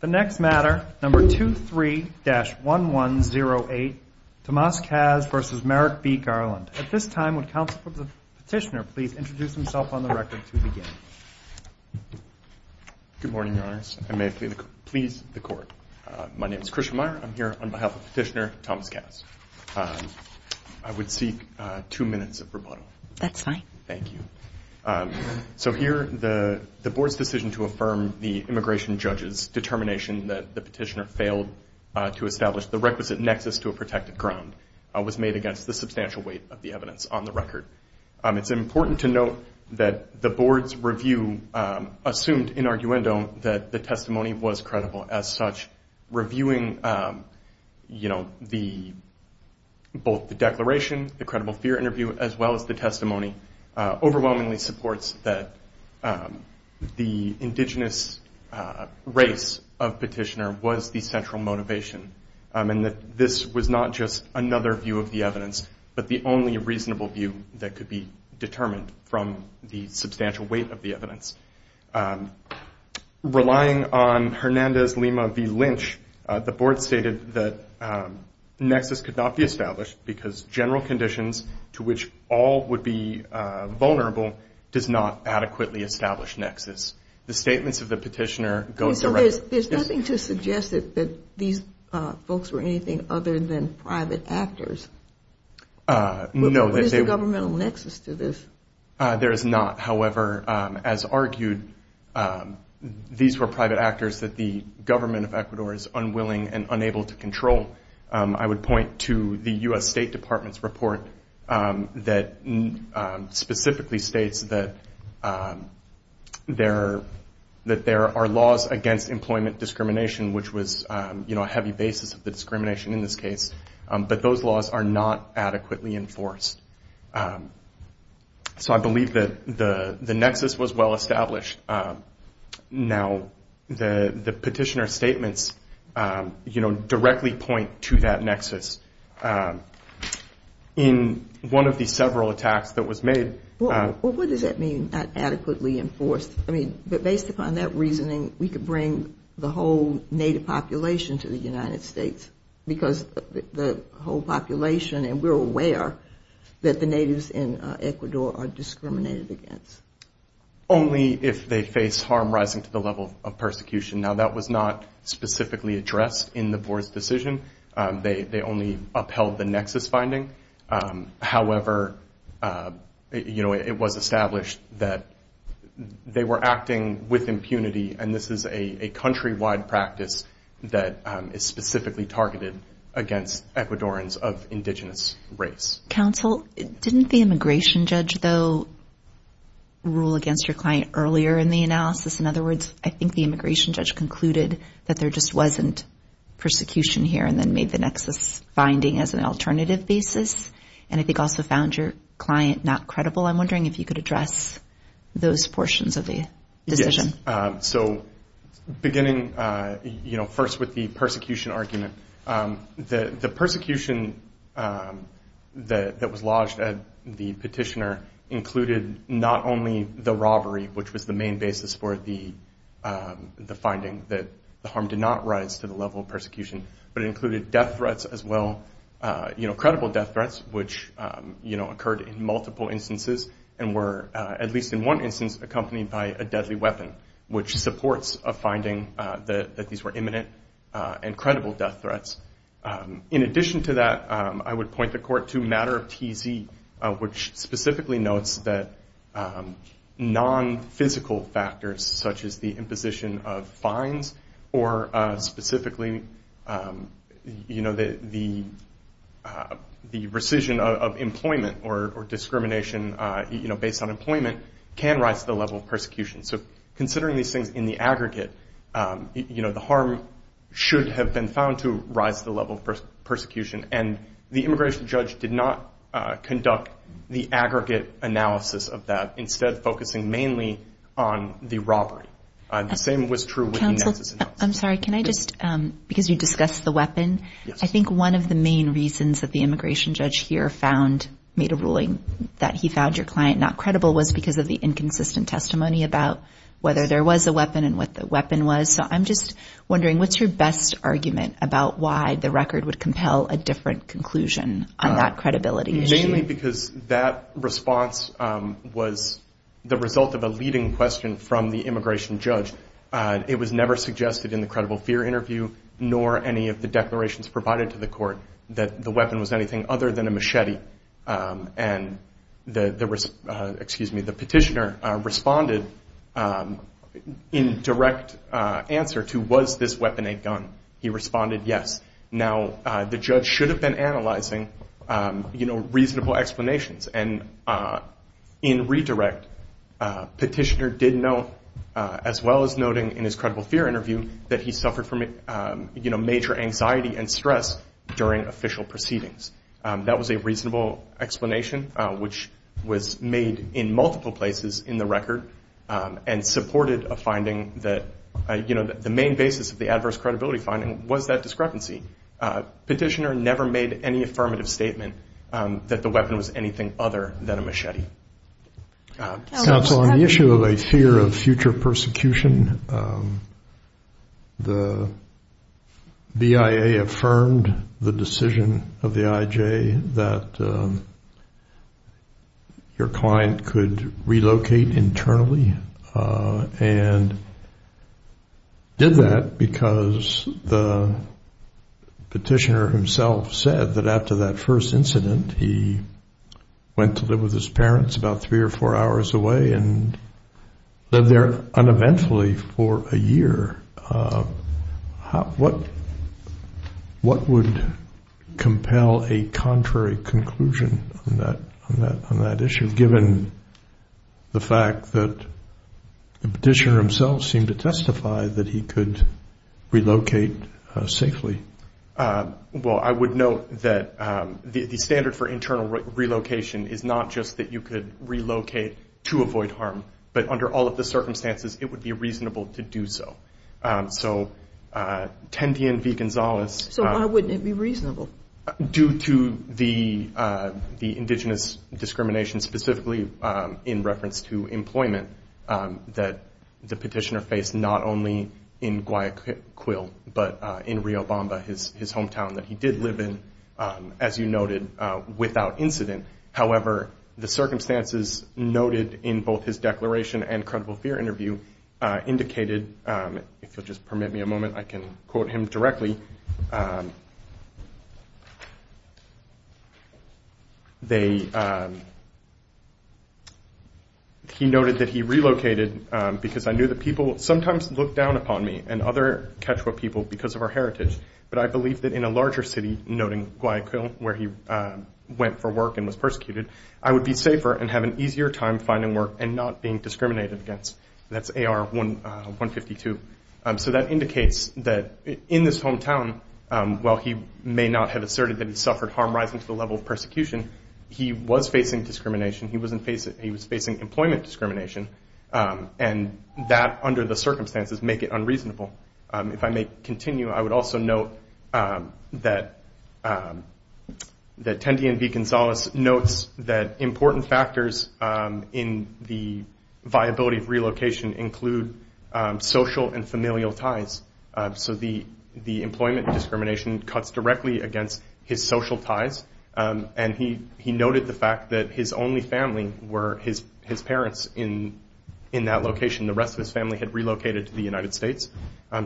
The next matter, number 23-1108, Tomas Caz v. Merrick B. Garland. At this time, would Counsel for the Petitioner please introduce himself on the record to begin? Good morning, Your Honors. I may please the Court. My name is Christian Meyer. I'm here on behalf of Petitioner Tomas Caz. I would seek two minutes of rebuttal. That's fine. Thank you. So here, the Board's decision to affirm the immigration judge's determination that the petitioner failed to establish the requisite nexus to a protected ground was made against the substantial weight of the evidence on the record. It's important to note that the Board's review assumed in arguendo that the testimony was credible. As such, reviewing both the declaration, the credible fear interview, as well as the testimony, overwhelmingly supports that the indigenous race of Petitioner was the central motivation and that this was not just another view of the evidence, but the only reasonable view that could be determined from the substantial weight of the evidence. Relying on Hernandez-Lima v. Lynch, the Board stated that nexus could not be established because general conditions to which all would be vulnerable does not adequately establish nexus. The statements of the petitioner go directly to this. There's nothing to suggest that these folks were anything other than private actors. No. What is the governmental nexus to this? There is not. However, as argued, these were private actors that the government of Ecuador is unwilling and unable to control. I would point to the U.S. State Department's report that specifically states that there are laws against employment discrimination, which was a heavy basis of the discrimination in this case, but those laws are not adequately enforced. So I believe that the nexus was well established. Now, the petitioner's statements, you know, directly point to that nexus. In one of the several attacks that was made. Well, what does that mean, not adequately enforced? I mean, based upon that reasoning, we could bring the whole native population to the United States because the whole population, and we're aware, that the natives in Ecuador are discriminated against. Only if they face harm rising to the level of persecution. Now, that was not specifically addressed in the board's decision. They only upheld the nexus finding. However, you know, it was established that they were acting with impunity, and this is a countrywide practice that is specifically targeted against Ecuadorans of indigenous race. Counsel, didn't the immigration judge, though, rule against your client earlier in the analysis? In other words, I think the immigration judge concluded that there just wasn't persecution here and then made the nexus finding as an alternative basis, and I think also found your client not credible. I'm wondering if you could address those portions of the decision. Yes. So beginning, you know, first with the persecution argument, the persecution that was lodged at the petitioner included not only the robbery, which was the main basis for the finding that the harm did not rise to the level of persecution, but it included death threats as well, you know, credible death threats, which, you know, occurred in multiple instances and were, at least in one instance, accompanied by a deadly weapon, which supports a finding that these were imminent and credible death threats. In addition to that, I would point the court to matter of TZ, which specifically notes that non-physical factors such as the imposition of fines or specifically, you know, the rescission of employment or discrimination, you know, based on employment can rise to the level of persecution. So considering these things in the aggregate, you know, the harm should have been found to rise to the level of persecution, and the immigration judge did not conduct the aggregate analysis of that, instead focusing mainly on the robbery. The same was true with the nexus analysis. Counsel, I'm sorry, can I just, because you discussed the weapon, I think one of the main reasons that the immigration judge here found, made a ruling that he found your client not credible was because of the inconsistent testimony about whether there was a weapon and what the weapon was. So I'm just wondering, what's your best argument about why the record would compel a different conclusion on that credibility issue? Certainly because that response was the result of a leading question from the immigration judge. It was never suggested in the credible fear interview, nor any of the declarations provided to the court that the weapon was anything other than a machete. And the petitioner responded in direct answer to, was this weapon a gun? He responded, yes. Now, the judge should have been analyzing reasonable explanations. And in redirect, petitioner did note, as well as noting in his credible fear interview, that he suffered from major anxiety and stress during official proceedings. That was a reasonable explanation, which was made in multiple places in the record and supported a finding that the main basis of the adverse credibility finding was that discrepancy. Petitioner never made any affirmative statement that the weapon was anything other than a machete. Counsel, on the issue of a fear of future persecution, the BIA affirmed the decision of the IJ that your client could relocate internally and did that because the petitioner himself said that after that first incident, he went to live with his parents about three or four hours away and lived there uneventfully for a year. What would compel a contrary conclusion on that issue, given the fact that the petitioner himself seemed to testify that he could relocate safely? Well, I would note that the standard for internal relocation is not just that you could relocate to avoid harm, but under all of the circumstances, it would be reasonable to do so. So why wouldn't it be reasonable? Due to the indigenous discrimination, specifically in reference to employment, that the petitioner faced not only in Guayaquil, but in Riobamba, his hometown, that he did live in, as you noted, without incident. However, the circumstances noted in both his declaration and credible fear interview indicated, if you'll just permit me a moment, I can quote him directly. He noted that he relocated because, I knew that people sometimes looked down upon me and other Quechua people because of our heritage, but I believe that in a larger city, noting Guayaquil, where he went for work and was persecuted, I would be safer and have an easier time finding work and not being discriminated against. That's AR 152. So that indicates that in this hometown, while he may not have asserted that he suffered harm rising to the level of persecution, he was facing discrimination. He was facing employment discrimination, and that, under the circumstances, make it unreasonable. If I may continue, I would also note that Tendien V. Gonzalez notes that important factors in the viability of relocation include social and familial ties. So the employment discrimination cuts directly against his social ties, and he noted the fact that his only family were his parents in that location. The rest of his family had relocated to the United States,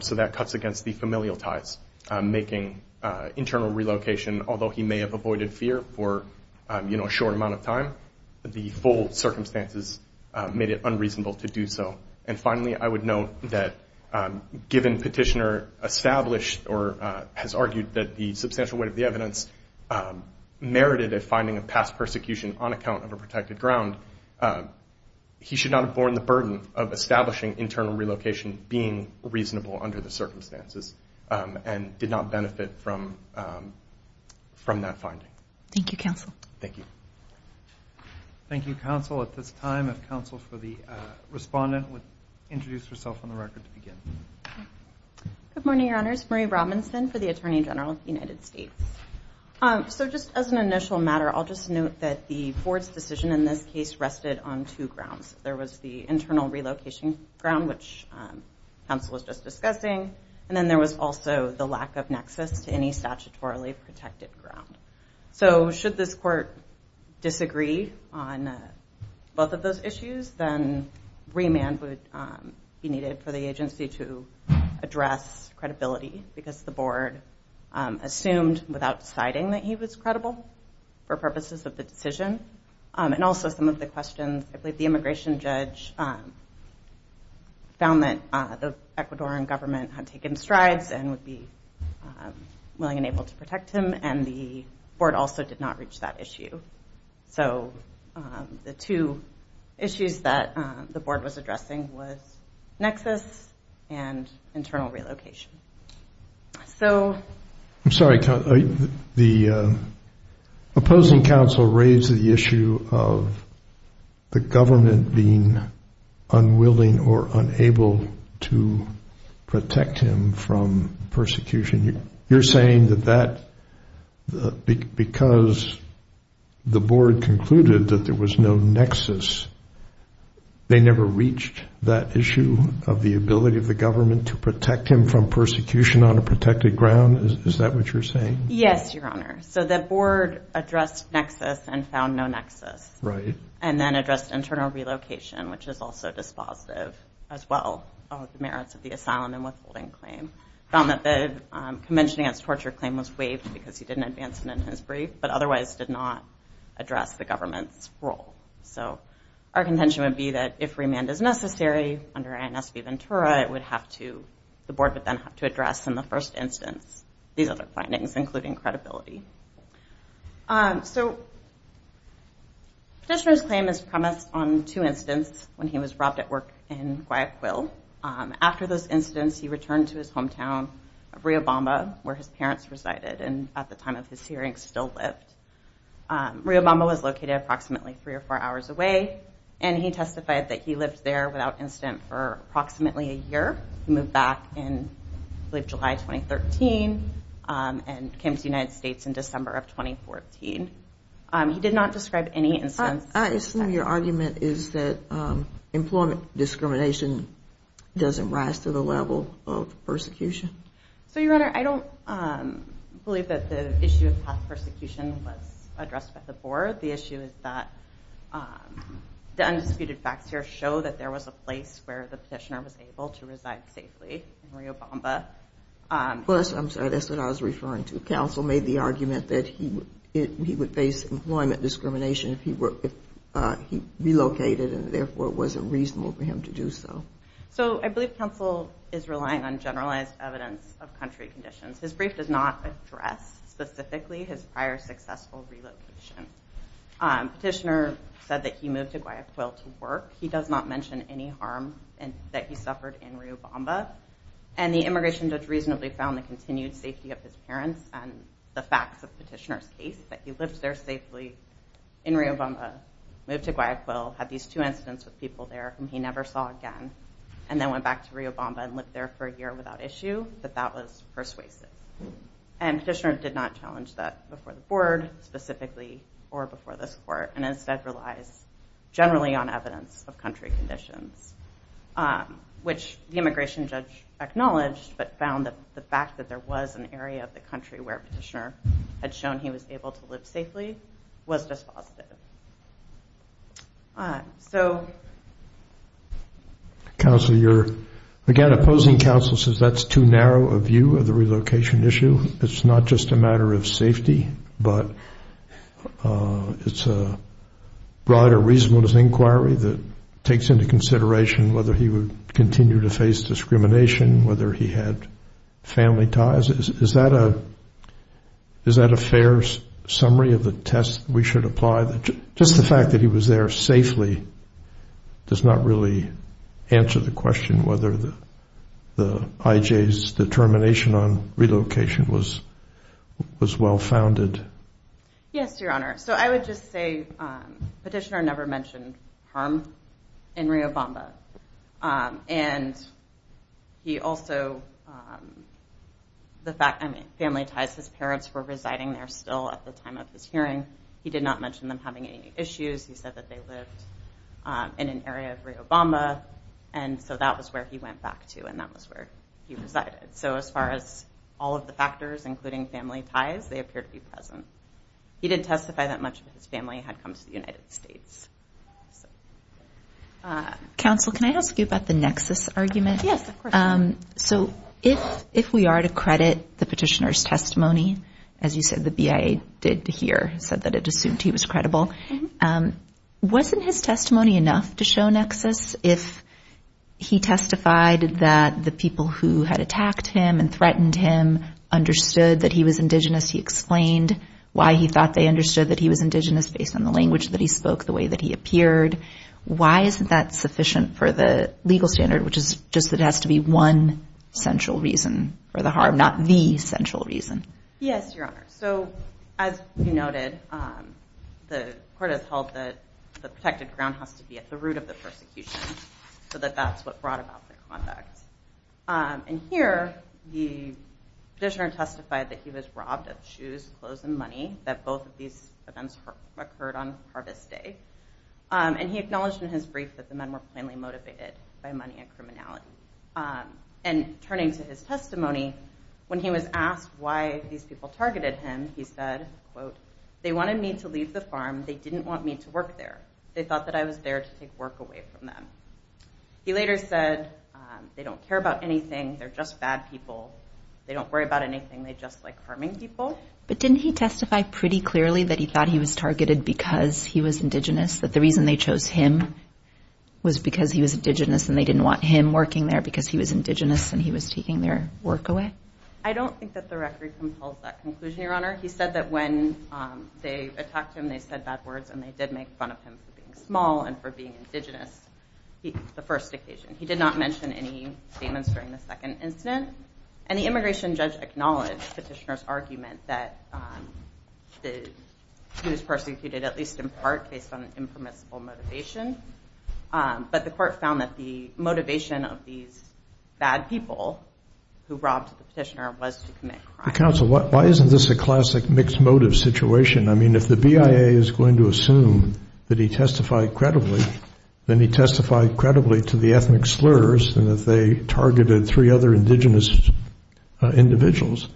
so that cuts against the familial ties, making internal relocation, although he may have avoided fear for a short amount of time, the full circumstances made it unreasonable to do so. And finally, I would note that given Petitioner established or has argued that the substantial weight of the evidence merited a finding of past persecution on account of a protected ground, he should not have borne the burden of establishing internal relocation being reasonable under the circumstances and did not benefit from that finding. Thank you, Counsel. Thank you. Thank you, Counsel. At this time, if Counsel for the respondent would introduce herself on the record to begin. Good morning, Your Honors. Marie Robinson for the Attorney General of the United States. So just as an initial matter, I'll just note that the board's decision in this case rested on two grounds. There was the internal relocation ground, which Counsel was just discussing, and then there was also the lack of nexus to any statutorily protected ground. So should this court disagree on both of those issues, then remand would be needed for the agency to address credibility, because the board assumed without deciding that he was credible for purposes of the decision. And also some of the questions, I believe the immigration judge found that the Ecuadoran government had taken strides and would be willing and able to protect him, and the board also did not reach that issue. So the two issues that the board was addressing was nexus and internal relocation. I'm sorry, Counsel. The opposing counsel raised the issue of the government being unwilling or unable to protect him from persecution. You're saying that because the board concluded that there was no nexus, they never reached that issue of the ability of the government to protect him from persecution on a protected ground? Is that what you're saying? Yes, Your Honor. So the board addressed nexus and found no nexus, and then addressed internal relocation, which is also dispositive as well of the merits of the asylum and withholding claim. It found that the Convention Against Torture claim was waived because he didn't advance it in his brief, but otherwise did not address the government's role. So our contention would be that if remand is necessary under ANSB-Ventura, the board would then have to address in the first instance these other findings, including credibility. So Petitioner's claim is premised on two incidents when he was robbed at work in Guayaquil. After those incidents, he returned to his hometown of Riobamba, where his parents resided, and at the time of this hearing still lived. Riobamba was located approximately three or four hours away, and he testified that he lived there without incident for approximately a year. He moved back in, I believe, July 2013 and came to the United States in December of 2014. He did not describe any incidents. I assume your argument is that employment discrimination doesn't rise to the level of persecution. So, Your Honor, I don't believe that the issue of prosecution was addressed by the board. The issue is that the undisputed facts here show that there was a place where the petitioner was able to reside safely in Riobamba. I'm sorry, that's what I was referring to. Counsel made the argument that he would face employment discrimination if he relocated and therefore it wasn't reasonable for him to do so. So I believe counsel is relying on generalized evidence of country conditions. His brief does not address specifically his prior successful relocation. Petitioner said that he moved to Guayaquil to work. He does not mention any harm that he suffered in Riobamba, and the immigration judge reasonably found the continued safety of his parents and the facts of petitioner's case that he lived there safely in Riobamba, moved to Guayaquil, had these two incidents with people there whom he never saw again, and then went back to Riobamba and lived there for a year without issue, that that was persuasive. And petitioner did not challenge that before the board specifically or before this court and instead relies generally on evidence of country conditions, which the immigration judge acknowledged but found that the fact that there was an area of the country where petitioner had shown he was able to live safely was dispositive. Counsel, you're, again, opposing counsel says that's too narrow a view of the relocation issue. It's not just a matter of safety, but it's a broader reasonableness inquiry that takes into consideration whether he would continue to face discrimination, whether he had family ties. Is that a fair summary of the test we should apply? Just the fact that he was there safely does not really answer the question whether the IJ's determination on relocation was well-founded. Yes, Your Honor. So I would just say petitioner never mentioned harm in Riobamba. And he also, the fact, I mean, family ties, his parents were residing there still at the time of this hearing. He did not mention them having any issues. He said that they lived in an area of Riobamba, and so that was where he went back to, and that was where he resided. So as far as all of the factors, including family ties, they appear to be present. He did testify that much of his family had come to the United States. Counsel, can I ask you about the nexus argument? Yes, of course. So if we are to credit the petitioner's testimony, as you said the BIA did here, said that it assumed he was credible, wasn't his testimony enough to show nexus if he testified that the people who had attacked him and threatened him understood that he was indigenous? He explained why he thought they understood that he was indigenous based on the language that he spoke, the way that he appeared. Why isn't that sufficient for the legal standard, which is just that it has to be one central reason for the harm, not the central reason? Yes, Your Honor. So as you noted, the court has held that the protected ground has to be at the root of the persecution, so that that's what brought about the conduct. And here the petitioner testified that he was robbed of shoes, clothes, and money, that both of these events occurred on harvest day, and he acknowledged in his brief that the men were plainly motivated by money and criminality. And turning to his testimony, when he was asked why these people targeted him, he said, quote, they wanted me to leave the farm. They didn't want me to work there. They thought that I was there to take work away from them. He later said they don't care about anything. They're just bad people. They don't worry about anything. They just like harming people. But didn't he testify pretty clearly that he thought he was targeted because he was indigenous, that the reason they chose him was because he was indigenous and they didn't want him working there because he was indigenous and he was taking their work away? I don't think that the record compels that conclusion, Your Honor. He said that when they attacked him, they said bad words, and they did make fun of him for being small and for being indigenous the first occasion. He did not mention any statements during the second incident. And the immigration judge acknowledged the petitioner's argument that he was persecuted, at least in part, based on an impermissible motivation. But the court found that the motivation of these bad people who robbed the petitioner was to commit crime. Counsel, why isn't this a classic mixed motive situation? I mean, if the BIA is going to assume that he testified credibly, then he testified credibly to the ethnic slurs and that they targeted three other indigenous individuals.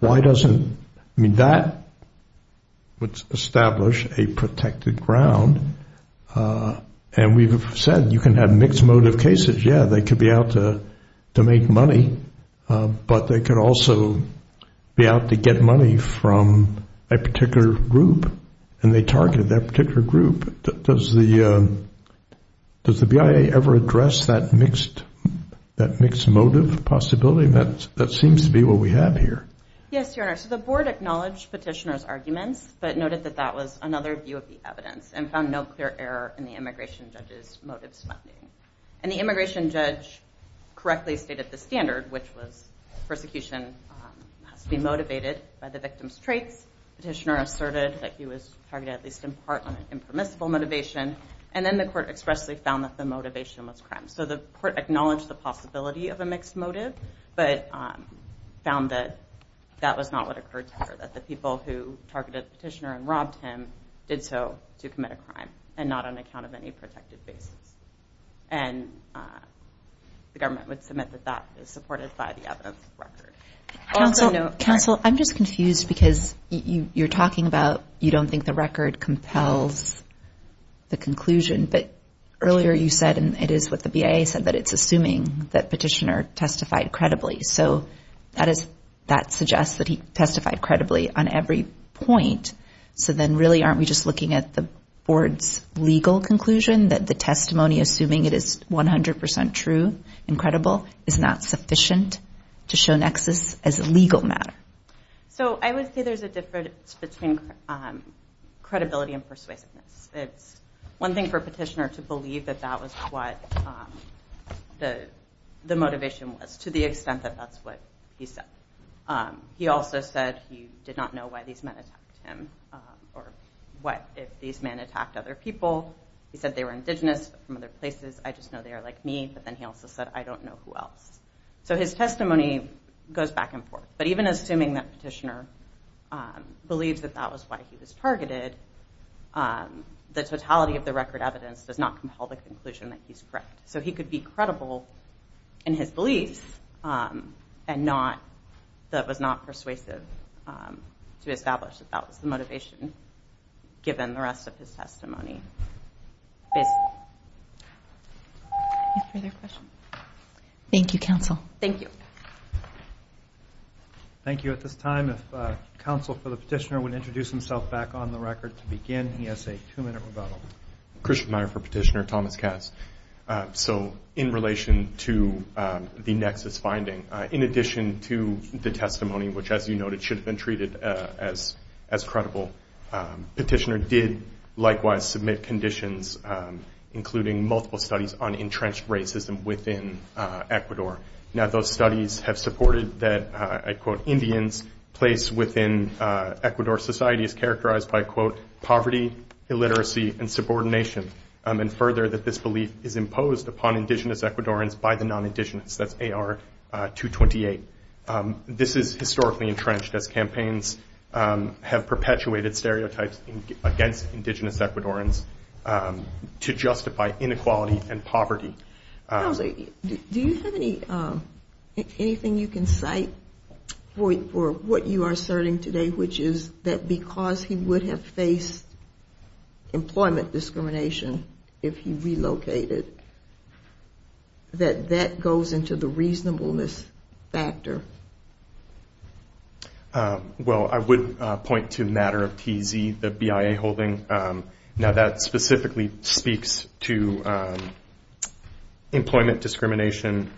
Why doesn't that establish a protected ground? And we've said you can have mixed motive cases. Yeah, they could be out to make money, but they could also be out to get money from a particular group, and they targeted that particular group. Does the BIA ever address that mixed motive possibility? That seems to be what we have here. Yes, Your Honor. So the board acknowledged petitioner's arguments, but noted that that was another view of the evidence and found no clear error in the immigration judge's motives finding. And the immigration judge correctly stated the standard, which was persecution has to be motivated by the victim's traits. Petitioner asserted that he was targeted at least in part on an impermissible motivation, and then the court expressly found that the motivation was crime. So the court acknowledged the possibility of a mixed motive, but found that that was not what occurred here, that the people who targeted petitioner and robbed him did so to commit a crime and not on account of any protected basis. And the government would submit that that is supported by the evidence record. Counsel, I'm just confused because you're talking about you don't think the record compels the conclusion, but earlier you said, and it is what the BIA said, that it's assuming that petitioner testified credibly. So that suggests that he testified credibly on every point. So then really aren't we just looking at the board's legal conclusion that the testimony, assuming it is 100% true and credible, is not sufficient to show nexus as a legal matter? So I would say there's a difference between credibility and persuasiveness. It's one thing for petitioner to believe that that was what the motivation was to the extent that that's what he said. He also said he did not know why these men attacked him or what if these men attacked other people. He said they were indigenous from other places. I just know they are like me. But then he also said, I don't know who else. So his testimony goes back and forth. But even assuming that petitioner believes that that was why he was targeted, the totality of the record evidence does not compel the conclusion that he's correct. So he could be credible in his beliefs and that was not persuasive to establish that that was the motivation given the rest of his testimony. Any further questions? Thank you, counsel. Thank you. Thank you. At this time, if counsel for the petitioner would introduce himself back on the record to begin. He has a two-minute rebuttal. Christian Meyer for petitioner, Thomas Cass. So in relation to the nexus finding, in addition to the testimony, which as you noted should have been treated as credible, petitioner did likewise submit conditions including multiple studies on entrenched racism within Ecuador. Now those studies have supported that, I quote, Indians placed within Ecuador society is characterized by, quote, poverty, illiteracy, and subordination. And further, that this belief is imposed upon indigenous Ecuadorans by the non-indigenous. That's AR 228. This is historically entrenched as campaigns have perpetuated stereotypes against indigenous Ecuadorans to justify inequality and poverty. Counsel, do you have anything you can cite for what you are asserting today, which is that because he would have faced employment discrimination if he relocated, that that goes into the reasonableness factor? Well, I would point to a matter of TZ, the BIA holding. Now that specifically speaks to employment discrimination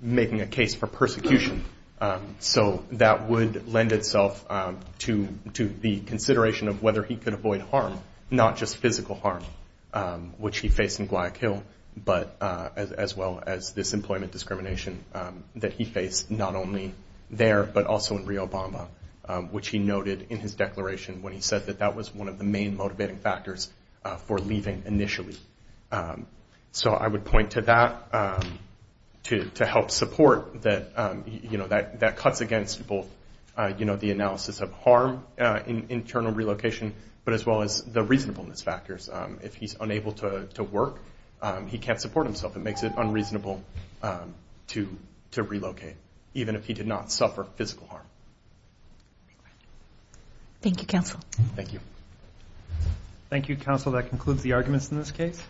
making a case for persecution. So that would lend itself to the consideration of whether he could avoid harm, not just physical harm, which he faced in Guayaquil, but as well as this employment discrimination that he faced not only there, but also in Rio Bamba, which he noted in his declaration when he said that that was one of the main motivating factors for leaving initially. So I would point to that to help support that, you know, that cuts against both, you know, the analysis of harm in internal relocation, but as well as the reasonableness factors. If he's unable to work, he can't support himself. It makes it unreasonable to relocate, even if he did not suffer physical harm. Thank you, Counsel. Thank you.